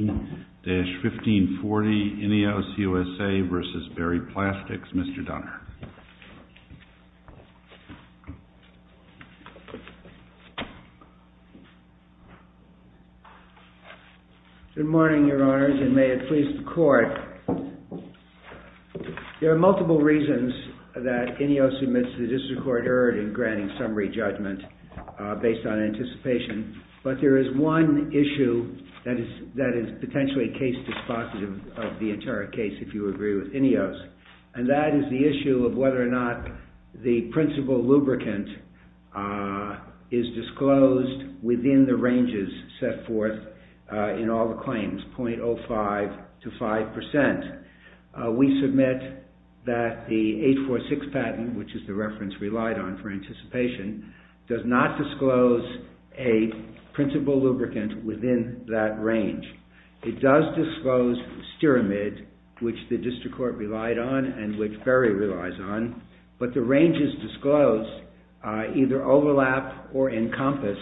1540 Ineos USA v. Berry Plastics. Mr. Dunner. Good morning, Your Honors, and may it please the Court. There are multiple reasons that Ineos admits to the District Court error in granting summary judgment based on anticipation, but there is one issue that is potentially case dispositive of the entire case, if you agree with Ineos, and that is the issue of whether or not the principal lubricant is disclosed within the ranges set forth in all the claims, 0.05 to 5%. We submit that the 846 patent, which is the reference relied on for the principal lubricant within that range, it does disclose stearamid, which the District Court relied on and which Berry relies on, but the ranges disclosed either overlap or encompass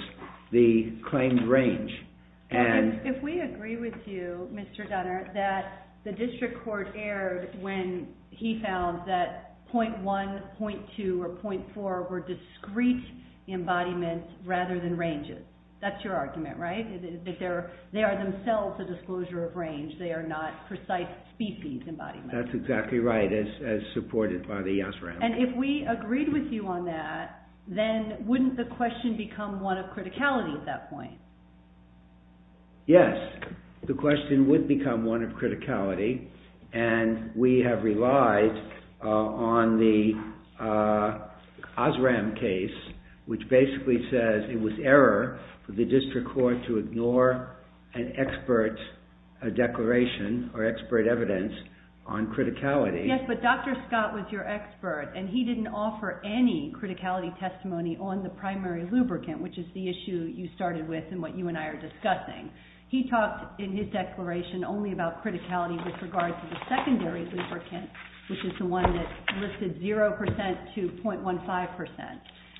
the claimed range. If we agree with you, Mr. Dunner, that the District Court erred when he found that 0.1, 0.2, or 0.4 were discrete embodiments rather than ranges, that's your argument, right? That they are themselves a disclosure of range, they are not precise species embodiments. That's exactly right, as supported by the OSRAM. And if we agreed with you on that, then wouldn't the question become one of criticality at that point? Yes, the question would become one of criticality, and we have relied on the OSRAM case, which basically says it was error for the District Court to ignore an expert declaration or expert evidence on criticality. Yes, but Dr. Scott was your expert, and he didn't offer any criticality testimony on the primary lubricant, which is the issue you started with and what you and I are discussing. He talked in his declaration only about criticality with regards to the secondary lubricant, which is the one that listed 0% to 0.15%.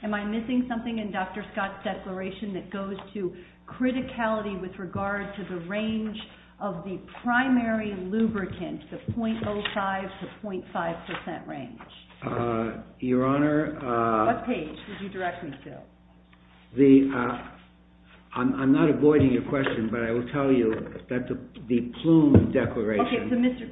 Am I missing something in Dr. Scott's declaration that goes to criticality with regards to the range of the primary lubricant, the 0.05 to 0.5% range? Your Honor, I'm not avoiding your question, but I will tell you that the Plume Declaration... Okay,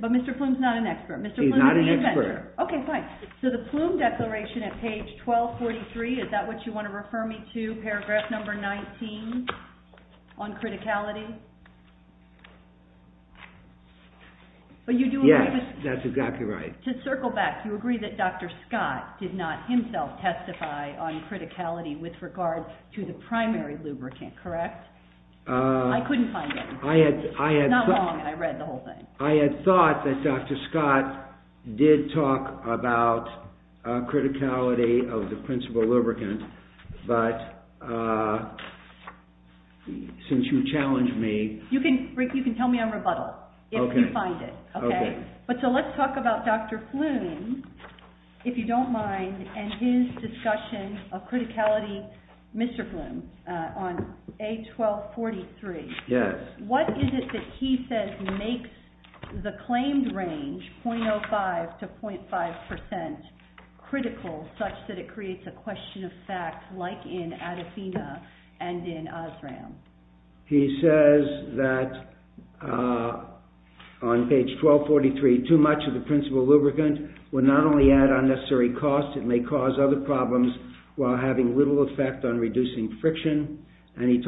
but Mr. Plume is not an expert. He's not an expert. Okay, fine. So the Plume Declaration at page 1243, is that what you want to refer me to, paragraph number 19 on criticality? Yes, that's exactly right. To circle back, you agree that Dr. Scott did not himself testify on criticality with regards to the primary lubricant, correct? I couldn't find it. It's not long, I read the whole thing. I had thought that Dr. Scott did talk about criticality of the principal lubricant, but since you challenged me... You can tell me on rebuttal if you find it. Okay. But so let's talk about Dr. Plume, if you don't mind, and his discussion of criticality, Mr. Plume, on page 1243. Yes. What is it that he says makes the claimed range 0.05% to 0.5% critical, such that it creates a question of fact like in Adafina and in Osram? He says that on page 1243, too much of the principal lubricant would not only add unnecessary cost, it may cause other problems while having little effect on reducing friction, and he says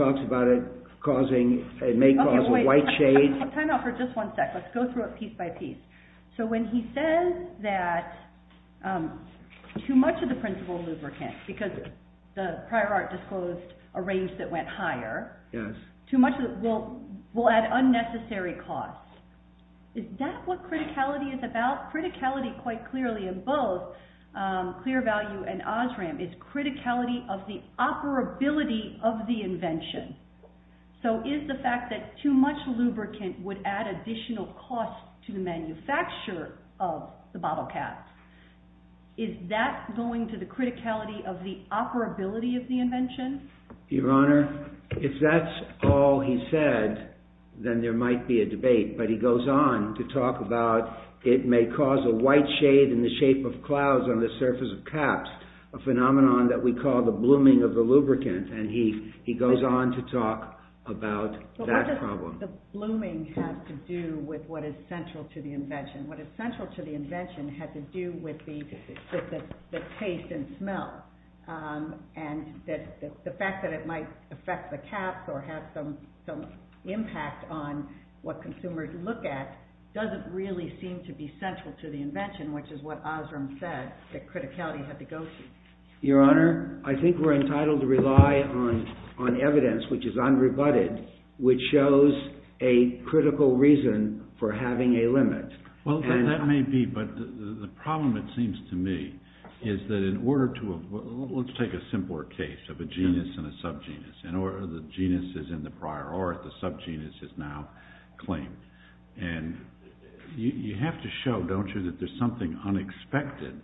that too much of the principal lubricant, because the prior art disclosed a range that went higher, too much of it will add unnecessary cost. Is that what criticality is about? Criticality, quite clearly in both Clear Value and Osram, is criticality of the operability of the invention. So is the fact that too much lubricant would add additional cost to the manufacturer of the bottle caps, is that going to the criticality of the operability of the invention? Your Honor, if that's all he said, then there might be a debate, but he goes on to talk about it may cause a white shade in the shape of clouds on the surface of caps, a phenomenon that we call the blooming of the lubricant, and he goes on to talk about that problem. What does the blooming have to do with what is central to the invention? What is central to the invention has to do with the taste and smell, and the fact that it might affect the caps or have some impact on what consumers look at doesn't really seem to be central to the invention, which is what Osram said, that criticality had to go through. Your Honor, I think we're entitled to rely on evidence, which is unrebutted, which shows a critical reason for having a limit. Well, that may be, but the problem, it seems to me, is that in order to... Let's take a simpler case of a genus and a subgenus, and the genus is in the prior, or the subgenus is now claimed, and you have to show, don't you, that there's something unexpected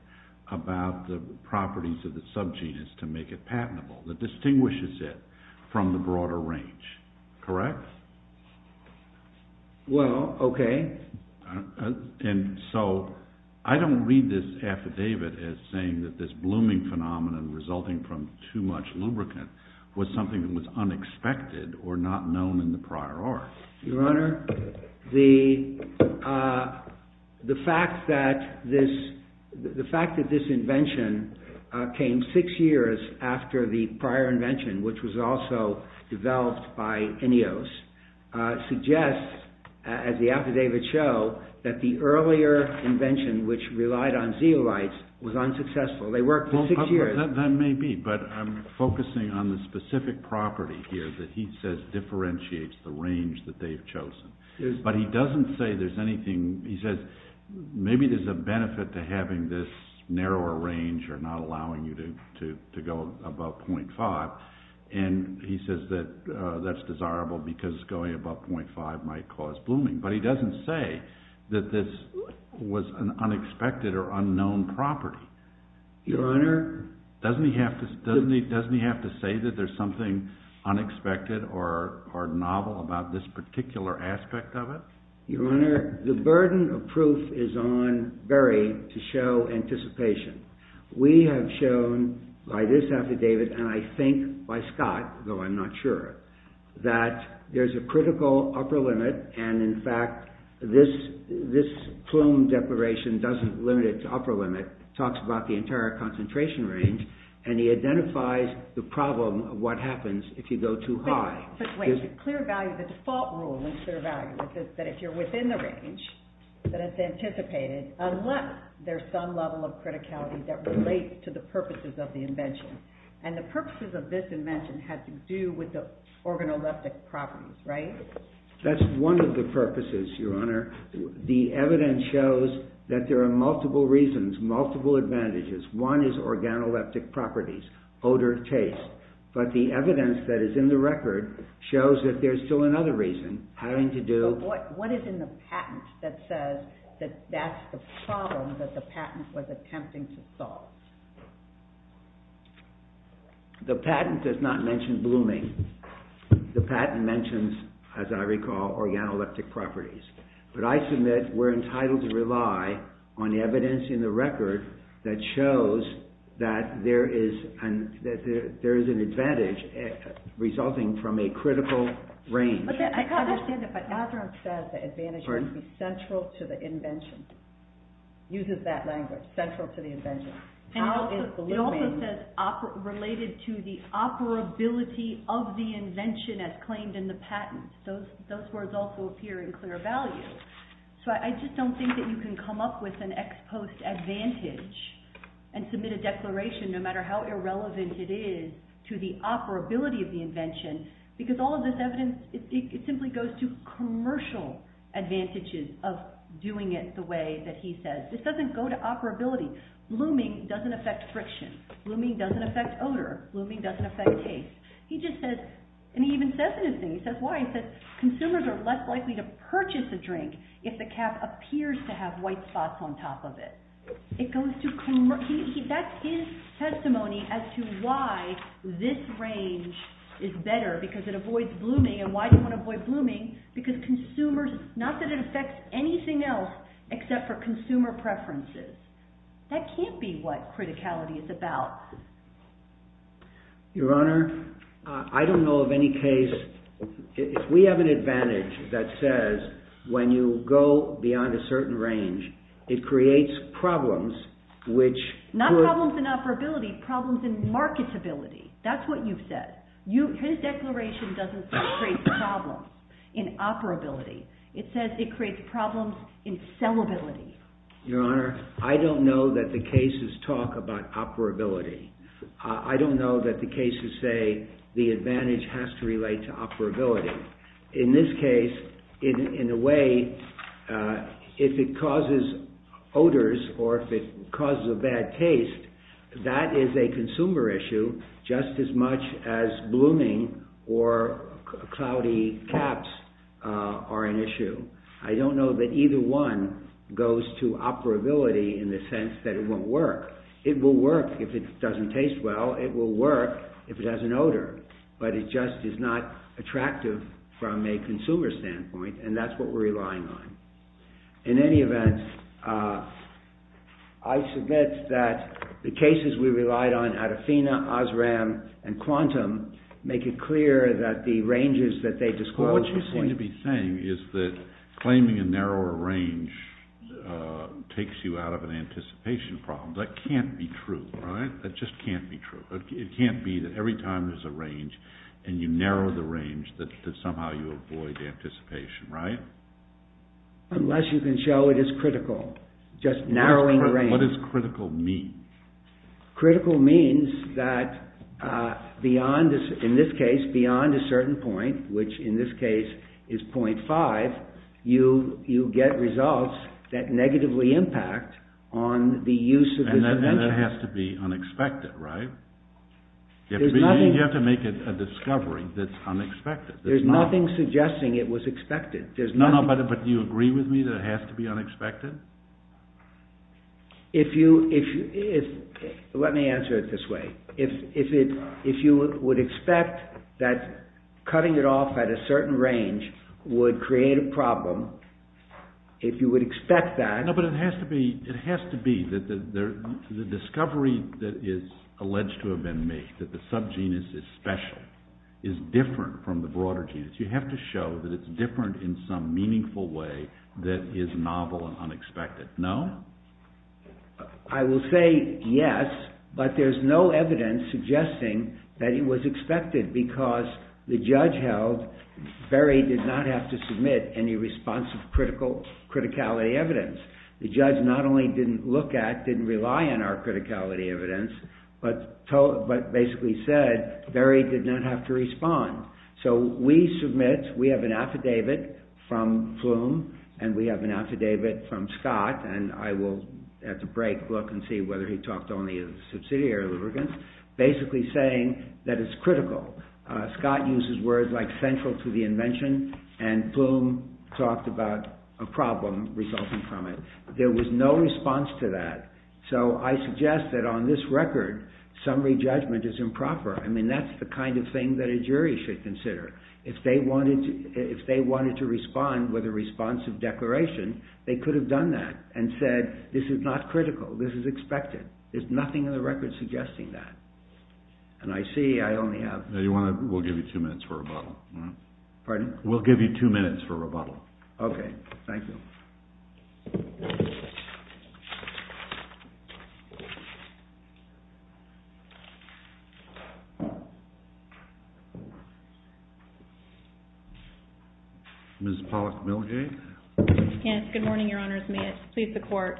about the properties of the subgenus to make it patentable that distinguishes it from the broader range, correct? Well, okay. And so, I don't read this affidavit as saying that this blooming phenomenon resulting from too much lubricant was something that was unexpected or not known in the prior art. Your Honor, the fact that this invention came six years after the prior invention, which was also developed by Ineos, suggests, as the affidavits show, that the earlier invention, which relied on zeolites, was unsuccessful. They worked for six years. That may be, but I'm focusing on the specific property here that he says differentiates the range that they've chosen, but he doesn't say there's anything... He says, maybe there's a benefit to having this narrower range or not allowing you to go above 0.5, and he says that that's desirable because going above 0.5 might cause blooming, but he doesn't say that this was an unexpected or unknown property. Your Honor? Doesn't he have to say that there's something unexpected or novel about this particular aspect of it? Your Honor, the burden of proof is on Berry to show anticipation. We have shown by this affidavit, and I think by Scott, though I'm not sure, that there's a critical upper limit, and in fact, this Plume Declaration doesn't limit it to upper limit. It talks about the entire concentration range, and he identifies the problem of what happens if you go too high. But wait, the default rule in clear value is that if you're within the range, that it's anticipated, unless there's some level of criticality that relates to the purposes of the invention, and the purposes of this invention have to do with the organoleptic properties, right? That's one of the purposes, Your Honor. The evidence shows that there are multiple reasons, multiple advantages. One is organoleptic properties, odor, taste, but the evidence that is in the record shows that there's still another reason, having to do... What is in the patent that says that that's the problem that the patent was attempting to solve? The patent does not mention blooming. The patent mentions, as I recall, organoleptic properties, but I submit we're entitled to rely on evidence in the record that shows that there is an advantage resulting from a critical range. I understand it, but Azzarone says the advantage must be central to the invention. Uses that language, central to the invention. How is blooming... It also says related to the operability of the invention as claimed in the patent. Those words also appear in clear value. So I just don't think that you can come up with an ex post advantage and submit a declaration, no matter how irrelevant it is, to the operability of the invention, because all of this evidence, it simply goes to commercial advantages of doing it the way that he says. This doesn't go to operability. Blooming doesn't affect friction. Blooming doesn't affect odor. Blooming doesn't affect taste. He just says, and he even says it in his thing, he says why, he says consumers are less likely to purchase a drink if the cap appears to have white spots on top of it. It goes to... That's his testimony as to why this range is better, because it avoids blooming, because consumers... Not that it affects anything else except for consumer preferences. That can't be what criticality is about. Your Honor, I don't know of any case... If we have an advantage that says when you go beyond a certain range, it creates problems which... Not problems in operability, problems in marketability. That's what you've said. His declaration doesn't say it creates problems in operability. It says it creates problems in sellability. Your Honor, I don't know that the cases talk about operability. I don't know that the cases say the advantage has to relate to operability. In this case, in a way, if it causes odors or if it causes a bad taste, that is a consumer issue just as much as blooming or cloudy caps are an issue. I don't know that either one goes to operability in the sense that it won't work. It will work if it doesn't taste well. It will work if it has an odor, but it just is not attractive from a consumer standpoint, and that's what we're relying on. In any event, I submit that the cases we relied on, Adafina, Osram, and Quantum, make it clear that the ranges that they disclose... What you seem to be saying is that claiming a narrower range takes you out of an anticipation problem. That can't be true, right? That just can't be true. It can't be that every time there's a range and you narrow the range that somehow you avoid anticipation, right? Unless you can show it is critical, just narrowing the range. What does critical mean? Critical means that, in this case, beyond a certain point, which in this case is 0.5, you get results that negatively impact on the use of this invention. And that has to be unexpected, right? You have to make a discovery that's unexpected. There's nothing suggesting it was expected. No, no, but do you agree with me that it has to be unexpected? Let me answer it this way. If you would expect that cutting it off at a certain range would create a problem, if you would expect that... No, but it has to be. It has to be. The discovery that is alleged to have been made, that the subgenus is special, is different from the broader genus. You have to show that it's different in some meaningful way that is novel and unexpected. No? I will say yes, but there's no evidence suggesting that it was expected because the judge held Berry did not have to submit any responsive criticality evidence. The judge not only didn't look at, didn't rely on our criticality evidence, but basically said Berry did not have to respond. So we submit, we have an affidavit from Flume, and we have an affidavit from Scott, and I will at the break look and see whether he talked only of subsidiary lubricants, basically saying that it's critical. Scott uses words like central to the invention, and Flume talked about a problem resulting from it. There was no response to that. So I suggest that on this record, summary judgment is improper. I mean, that's the kind of thing that a jury should consider. If they wanted to respond with a responsive declaration, they could have done that and said, this is not critical, this is expected. There's nothing in the record suggesting that. And I see I only have... Now you want to, we'll give you two minutes for rebuttal. Pardon? We'll give you two minutes for rebuttal. Okay, thank you. Ms. Pollack-Milgay? Yes, good morning, Your Honors. May it please the Court.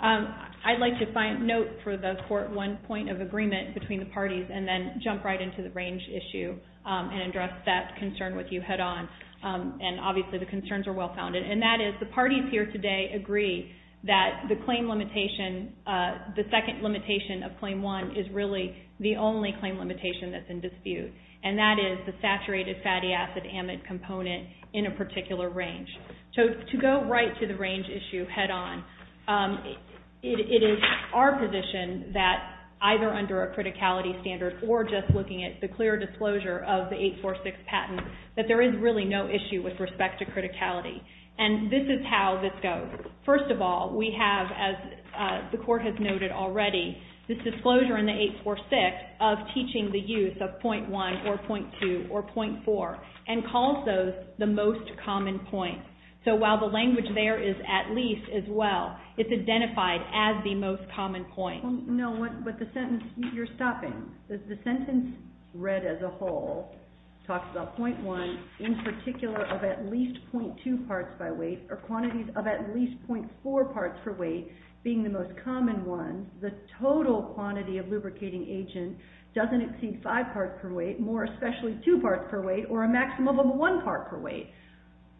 I'd like to note for the Court one point of agreement between the parties, and then jump right into the range issue and address that concern with you head on. And obviously the concerns are well-founded, and that is the parties here today agree that the claim limitation, the second limitation of Claim 1 is really the only claim limitation that's in dispute. And that is the saturated fatty acid amide component in a particular range. So to go right to the range issue head on, it is our position that either under a criticality standard or just looking at the clear disclosure of the 846 patent, that there is really no issue with respect to criticality. And this is how this goes. First of all, we have, as the Court has noted already, this disclosure in the 846 of teaching the use of .1 or .2 or .4, and calls those the most common points. So while the language there is at least as well, it's identified as the most common point. No, but the sentence, you're stopping. The sentence read as a whole talks about .1 in particular of at least .2 parts by weight, or quantities of at least .4 parts per weight being the most common one. The total quantity of lubricating agent doesn't exceed 5 parts per weight, more especially 2 parts per weight, or a maximum of 1 part per weight.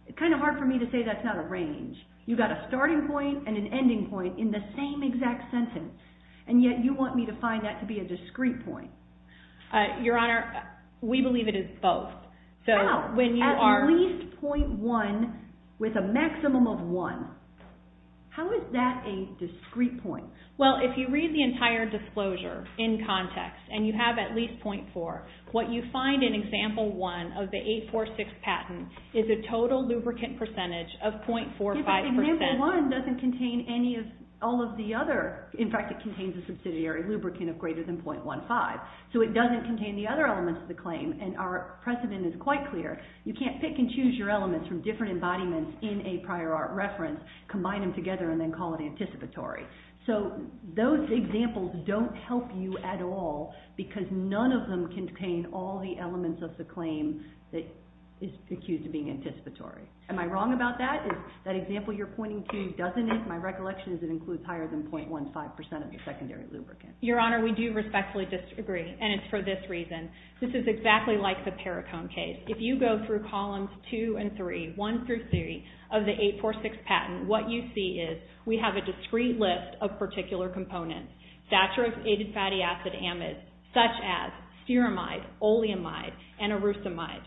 It's kind of hard for me to say that's not a range. You've got a starting point and an ending point in the same exact sentence, and yet you want me to find that to be a discrete point. Your Honor, we believe it is both. How? At least .1 with a maximum of 1. How is that a discrete point? Well, if you read the entire disclosure in context, and you have at least .4, what you find in Example 1 of the 846 patent is a total lubricant percentage of .45%. If Example 1 doesn't contain any of all of the other, in fact, it contains a subsidiary lubricant of greater than .15. So it doesn't contain the other elements of the claim, and our precedent is quite clear. You can't pick and choose your elements from different embodiments in a prior art reference, combine them together, and then call it anticipatory. So those examples don't help you at all because none of them contain all the elements of the claim that is accused of being anticipatory. Am I wrong about that? Is that example you're pointing to, doesn't it? My recollection is it includes higher than .15% of your secondary lubricant. Your Honor, we do respectfully disagree, and it's for this reason. This is exactly like the Paracone case. If you go through Columns 2 and 3, 1 through 3, of the 846 patent, what you see is we have a discrete list of particular components, saturated fatty acid amides, such as stearamide, oleamide, and erosamide.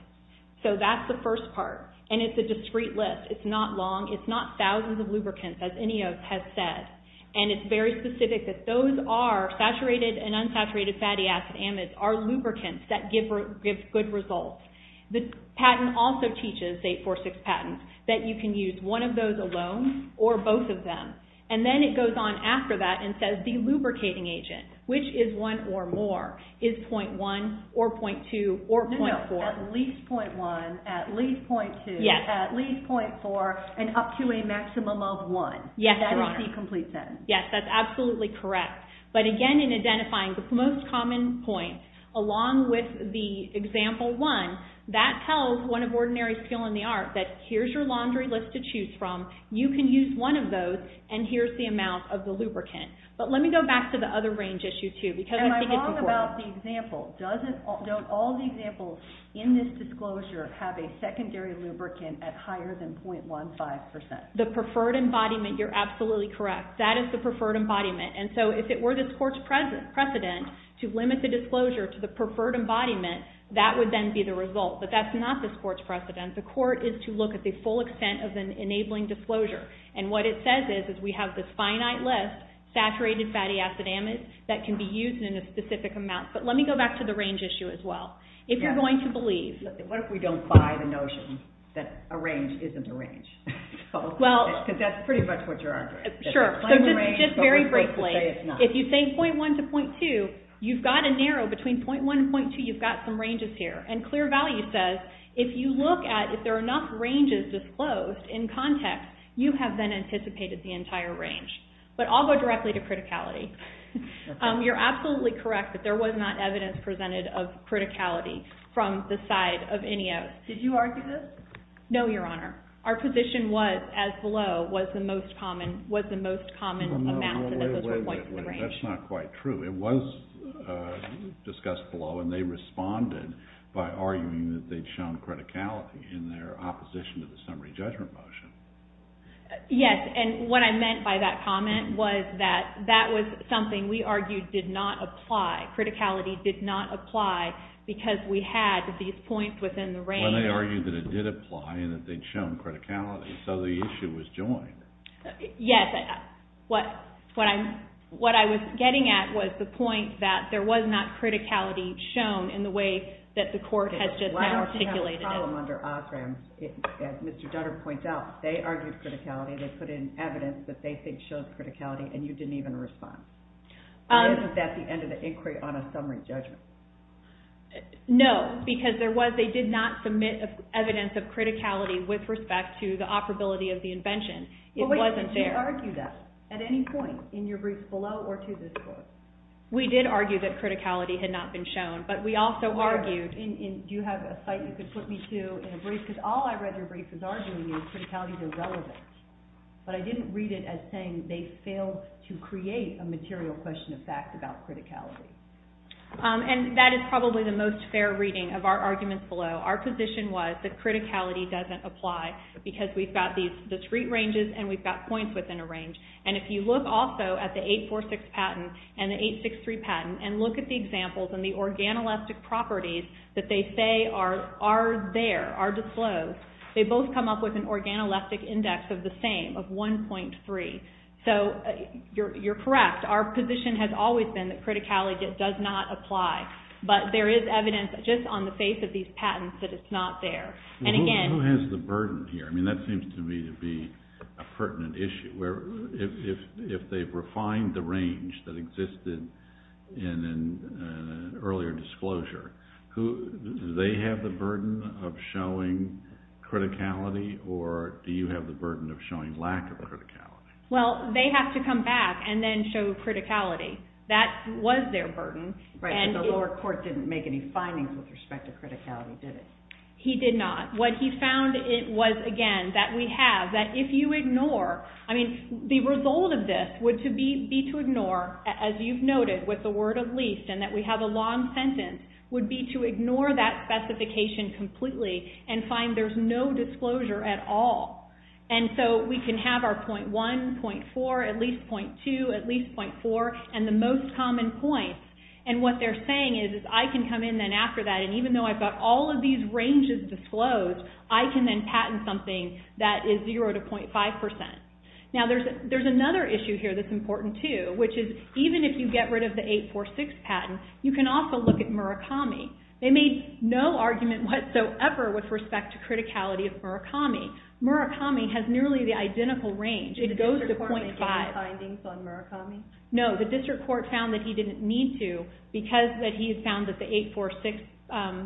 So that's the first part, and it's a discrete list. It's not long. It's not thousands of lubricants, as any of us has said, and it's very specific that those are saturated and unsaturated fatty acid amides are lubricants that give good results. The patent also teaches, 846 patent, that you can use one of those alone or both of them, and then it goes on after that and says the lubricating agent, which is one or more, is .1 or .2 or .4. At least .1, at least .2, at least .4, and up to a maximum of 1. Yes, Your Honor. That is the complete sentence. Yes, that's absolutely correct. But again, in identifying the most common points, along with the example 1, that tells one of ordinary skill in the art that here's your laundry list to choose from, you can use one of those, and here's the amount of the lubricant. But let me go back to the other range issue, too, because I think it's important. Am I wrong about the example? Don't all the examples in this disclosure have a secondary lubricant at higher than .15%? The preferred embodiment, you're absolutely correct. That is the preferred embodiment. And so if it were this court's precedent to limit the disclosure to the preferred embodiment, that would then be the result. But that's not this court's precedent. The court is to look at the full extent of an enabling disclosure. And what it says is we have this finite list, saturated fatty acid amide, that can be used in a specific amount. But let me go back to the range issue, as well. If you're going to believe... What if we don't buy the notion that a range isn't a range? Well... Because that's pretty much what you're arguing. Sure. So just very briefly, if you say .1 to .2, you've got to narrow between .1 and .2, you've got some ranges here. And clear value says if you look at if there are enough ranges disclosed in context, you have then anticipated the entire range. But I'll go directly to criticality. You're absolutely correct that there was not evidence presented of criticality from the side of INEOS. Did you argue this? No, Your Honor. Our position was, as below, was the most common amount and that those were points within the range. Wait, wait, wait. That's not quite true. It was discussed below, and they responded by arguing that they'd shown criticality in their opposition to the summary judgment motion. Yes. And what I meant by that comment was that that was something we argued did not apply. Criticality did not apply because we had these points within the range. When they argued that it did apply and that they'd shown criticality. So the issue was joined. Yes. What I was getting at was the point that there was not criticality shown in the way that the court has just now articulated it. Why don't you have a problem under Osram? As Mr. Dutter points out, they argued criticality, they put in evidence that they think shows criticality, and you didn't even respond. Or is that the end of the inquiry on a summary judgment? No, because they did not submit evidence of criticality with respect to the operability of the invention. It wasn't there. But wait, did you argue that at any point in your brief below or to this court? We did argue that criticality had not been shown, but we also argued... And do you have a site you could put me to in a brief? Because all I read your brief was arguing that criticality is irrelevant, but I didn't read it as saying they failed to create a material question of fact about criticality. And that is probably the most fair reading of our arguments below. Our position was that criticality doesn't apply, because we've got these discrete ranges and we've got points within a range. And if you look also at the 846 patent and the 863 patent and look at the examples and the organoelastic properties that they say are there, are disclosed, they both come up with an organoelastic index of the same, of 1.3. So you're correct. Our position has always been that criticality does not apply. But there is evidence just on the face of these patents that it's not there. And again... Who has the burden here? I mean, that seems to me to be a pertinent issue. If they've refined the range that existed in an earlier disclosure, do they have the burden of showing criticality or do you have the burden of showing lack of criticality? Well, they have to come back and then show criticality. That was their burden. Right, but the lower court didn't make any findings with respect to criticality, did it? He did not. What he found, it was, again, that we have, that if you ignore... I mean, the result of this would be to ignore, as you've noted with the word of least and that we have a long sentence, would be to ignore that specification completely and find there's no disclosure at all. And so we can have our 0.1, 0.4, at least 0.2, at least 0.4, and the most common points. And what they're saying is, is I can come in then after that, and even though I've got all of these ranges disclosed, I can then patent something that is 0 to 0.5%. Now, there's another issue here that's important too, which is even if you get rid of the 846 patent, you can also look at Murakami. They made no argument whatsoever with respect to criticality of Murakami. Murakami has nearly the identical range. It goes to 0.5. Did the district court make any findings on Murakami? No, the district court found that he didn't need to because he had found that the 846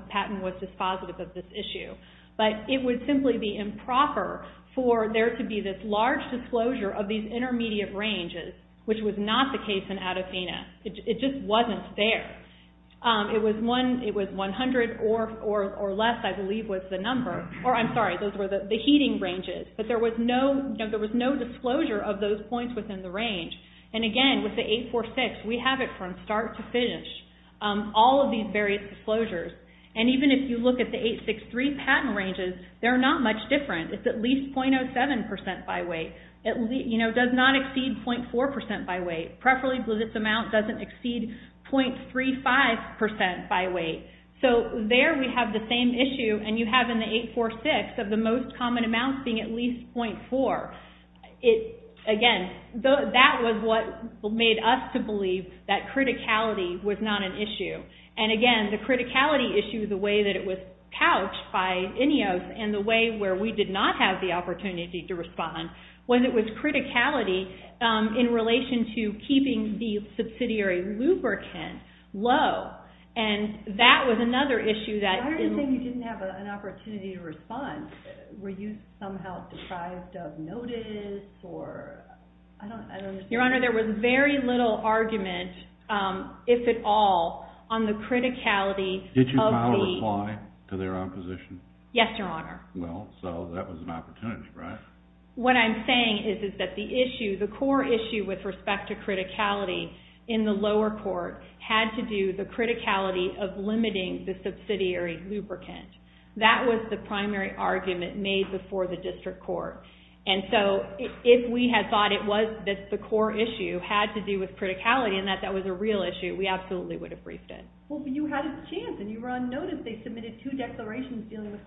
patent was dispositive of this issue. But it would simply be improper for there to be this large disclosure of these intermediate ranges, which was not the case in Adafina. It just wasn't there. It was 100 or less, I believe, was the number, or I'm sorry, those were the heating ranges. But there was no disclosure of those points within the range. And again, with the 846, we have it from start to finish, all of these various disclosures. And even if you look at the 863 patent ranges, they're not much different. It's at least 0.5. It doesn't exceed 0.35% by weight. So there we have the same issue, and you have in the 846 of the most common amounts being at least 0.4. Again, that was what made us to believe that criticality was not an issue. And again, the criticality issue, the way that it was couched by INEOS and the way where we did not have the opportunity to respond, was it was criticality in relation to keeping the subsidiary lubricant low. And that was another issue that... Why do you think you didn't have an opportunity to respond? Were you somehow deprived of notice, or... I don't understand. Your Honor, there was very little argument, if at all, on the criticality of the... Did you file a reply to their opposition? Yes, Your Honor. Well, so that was an opportunity, right? What I'm saying is that the issue, the core issue with respect to criticality in the lower court had to do with the criticality of limiting the subsidiary lubricant. That was the primary argument made before the district court. And so if we had thought it was that the core issue had to do with criticality and that that was a real issue, we absolutely would have briefed it. Well, but you had a chance, and you were unnoticed. They submitted two declarations dealing with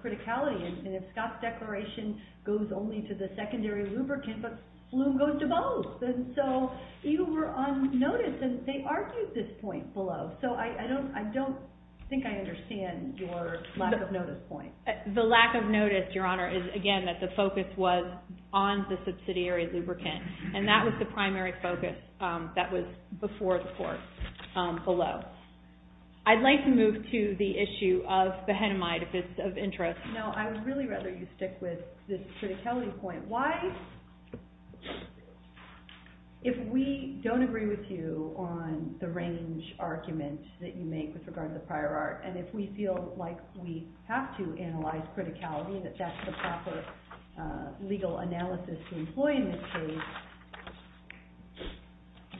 the secondary lubricant, but flume goes to both. And so you were unnoticed, and they argued this point below. So I don't think I understand your lack of notice point. The lack of notice, Your Honor, is, again, that the focus was on the subsidiary lubricant. And that was the primary focus that was before the court below. I'd like to move to the issue of behenamide, if it's of interest. No, I would really rather you stick with this criticality point. Why, if we don't agree with you on the range argument that you make with regard to the prior art, and if we feel like we have to analyze criticality, that that's the proper legal analysis to employ in this case,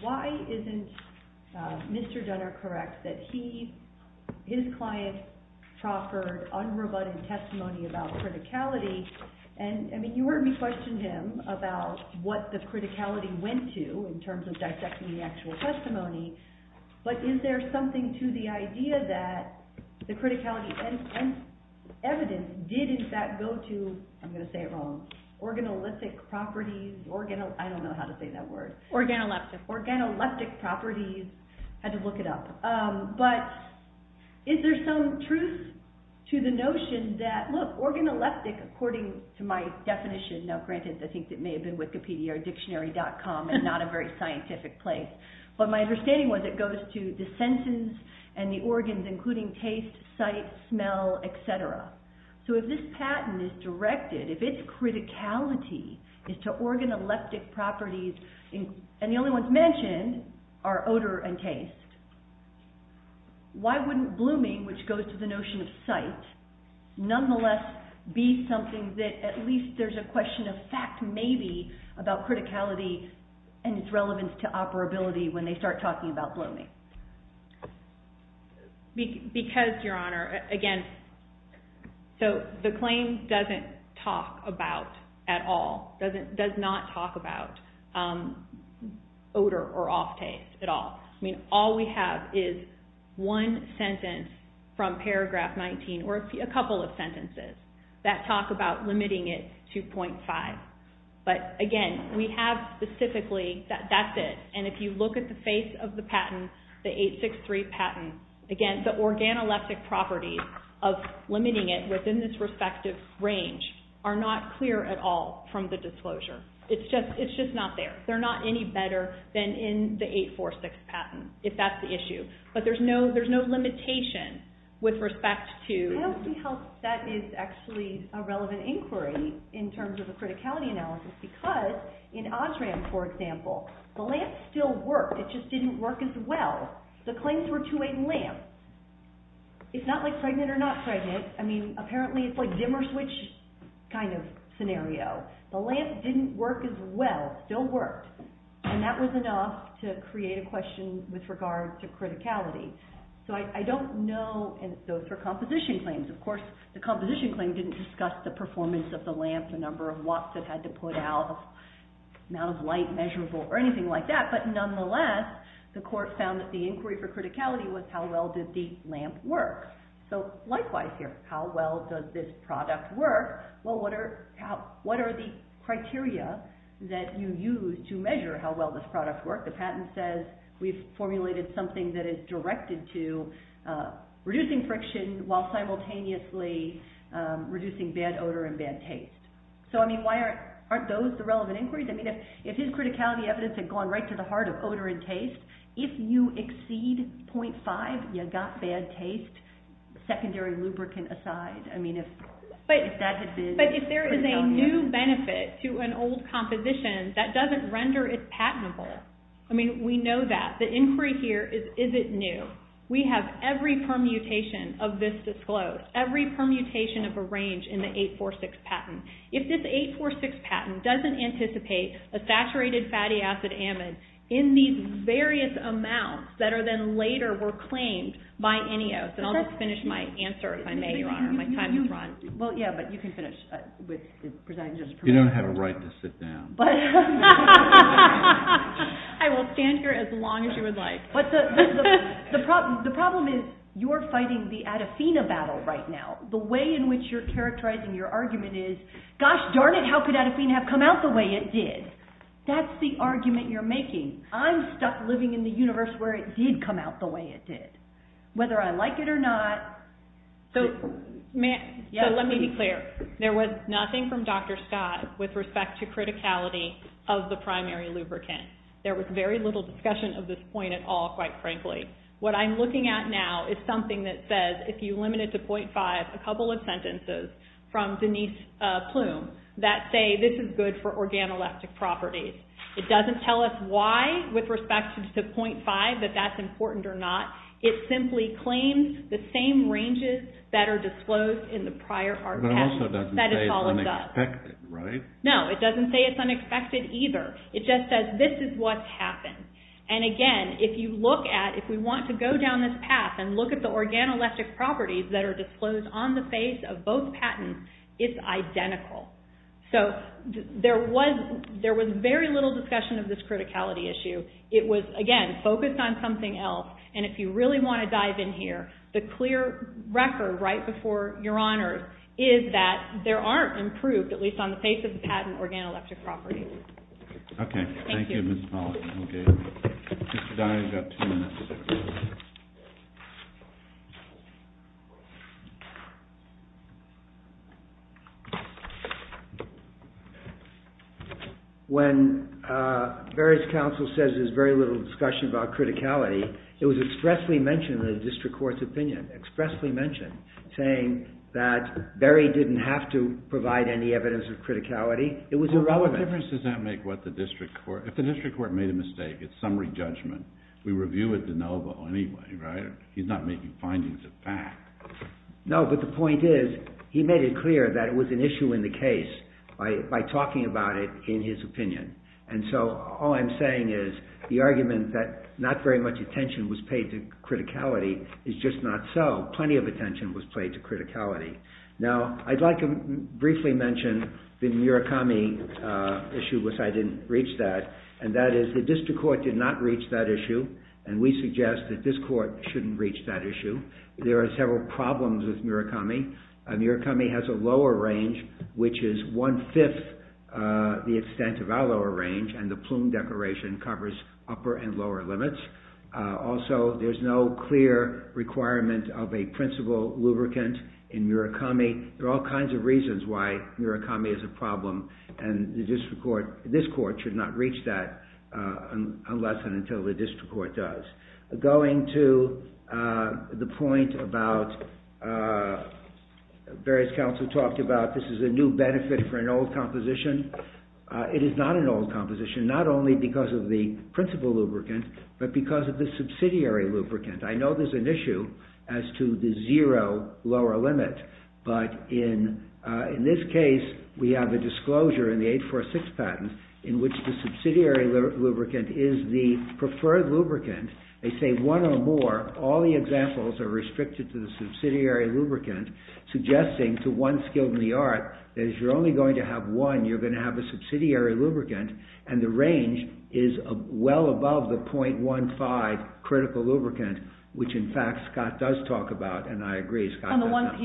why isn't Mr. Dunner correct that he, his client, proffered unrebutted testimony about criticality? And, I mean, you heard me question him about what the criticality went to in terms of dissecting the actual testimony, but is there something to the idea that the criticality and evidence did in fact go to, I'm going to say it wrong, organolithic properties, I don't know how to say that word, organoleptic properties, I had to look it up, but is there some truth to the notion that, look, organoleptic, according to my definition, now granted, I think it may have been wikipedia or dictionary.com and not a very scientific place, but my understanding was it goes to the senses and the organs, including taste, sight, smell, et cetera. So if this patent is directed, if its criticality is to organoleptic properties, and the only ones mentioned are odor and taste, why wouldn't blooming, which goes to the notion of sight, nonetheless be something that at least there's a question of fact maybe about criticality and its relevance to operability when they start talking about blooming? Because, Your Honor, again, so the claim doesn't talk about at all, does not talk about odor or off taste at all. I mean, all we have is one sentence from paragraph 19, or a couple of sentences that talk about limiting it to .5. But again, we have specifically, that's it, and if you look at the face of the patent, the 863 patent, again, the organoleptic properties of limiting it within this respective range are not clear at all from the disclosure. It's just not there. They're not any better than in the 846 patent, if that's the issue. But there's no limitation with respect to... I don't see how that is actually a relevant inquiry in terms of a criticality analysis, because in Osram, for example, the lamp still worked, it just didn't work as well. The claims were to a lamp. It's not like pregnant or not pregnant. I mean, apparently it's like dimmer switch kind of scenario. The lamp didn't work as well, still worked. And that was enough to create a question with regards to criticality. So I don't know, and those were composition claims. Of course, the composition claim didn't discuss the performance of the lamp, the number of watts it had to put out, amount of light measurable, or anything like that. But nonetheless, the court found that the inquiry for criticality was how well did the lamp work? So likewise here, how well does this product work? Well, what are the criteria that you use to measure how well this product worked? The patent says we've formulated something that is directed to reducing friction while simultaneously reducing bad odor and bad taste. So I mean, why aren't those the relevant inquiries? I mean, if his criticality evidence had gone right to the heart of odor and taste, if you exceed 0.5, you got bad taste, secondary lubricant aside. I mean, if that had been... But if there is a new benefit to an old composition, that doesn't render it patentable. I mean, we know that. The inquiry here is, is it new? We have every permutation of this disclosed, every permutation of a range in the 846 patent. If this 846 patent doesn't anticipate a saturated fatty acid amide in these various amounts that are then later were claimed by the FDA. I will stand here as long as you would like. But the problem is you're fighting the Adafina battle right now. The way in which you're characterizing your argument is, gosh darn it, how could Adafina have come out the way it did? That's the argument you're making. I'm stuck living in the universe where it did come out the way it did, whether I like it or not. So let me be clear. There was nothing from Dr. Scott with respect to criticality of the primary lubricant. There was very little discussion of this point at all, quite frankly. What I'm looking at now is something that says if you limit it to 0.5, a couple of sentences from Denise Plume that say this is good for organoleptic properties. It doesn't tell us why with respect to 0.5, that that's important or not. It simply claims the same ranges that are disclosed in the prior patent. That is all it does. No, it doesn't say it's unexpected either. It just says this is what happened. And again, if you look at, if we want to go down this path and look at the organoleptic properties that are disclosed on the face of both patents, it's identical. So there was very little discussion of this criticality issue. It was, again, focused on something else. And if you look at the prior patent, what I'm looking at is that there aren't improved, at least on the face of the patent, organoleptic properties. Okay. Thank you, Ms. Pollack. Okay. Mr. Dyer, you've got two minutes. When Barry's counsel says there's very little discussion about criticality, it was expressly mentioned in the district court's opinion, expressly mentioned, saying that Barry didn't have to provide any evidence of criticality. It was irrelevant. Well, what difference does that make what the district court... If the district court made a mistake, it's summary judgment. We review it de novo anyway, right? He's not making findings of fact. No, but the point is, he made it clear that it was an issue in the case by talking about it in his is just not so. Plenty of attention was played to criticality. Now, I'd like to briefly mention the Murakami issue, which I didn't reach that, and that is the district court did not reach that issue, and we suggest that this court shouldn't reach that issue. There are several problems with Murakami. Murakami has a lower range, which is one-fifth the extent of our lower range, and the requirement of a principal lubricant in Murakami. There are all kinds of reasons why Murakami is a problem, and this court should not reach that unless and until the district court does. Going to the point about... Barry's counsel talked about this is a new benefit for an old composition. It is not an old composition, not only because of the principal lubricant, but because of the subsidiary lubricant. I know there's an issue as to the zero lower limit, but in this case, we have a disclosure in the 846 patent in which the subsidiary lubricant is the preferred lubricant. They say one or more. All the examples are restricted to the subsidiary lubricant, suggesting to one skilled in the art that if you're only going to have one, you're going to have a subsidiary lubricant, and the range is well above the 0.15 critical lubricant, which in fact Scott does talk about, and I agree. He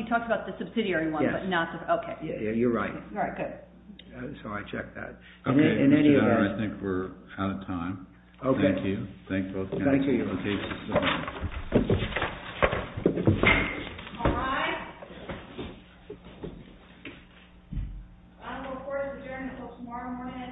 talked about the subsidiary one, but not... Okay. Yeah, you're right. All right, good. So I check that. Okay. I think we're out of time. Okay. Thank you. Thank you. All right, I will report as adjourned until tomorrow morning at 10.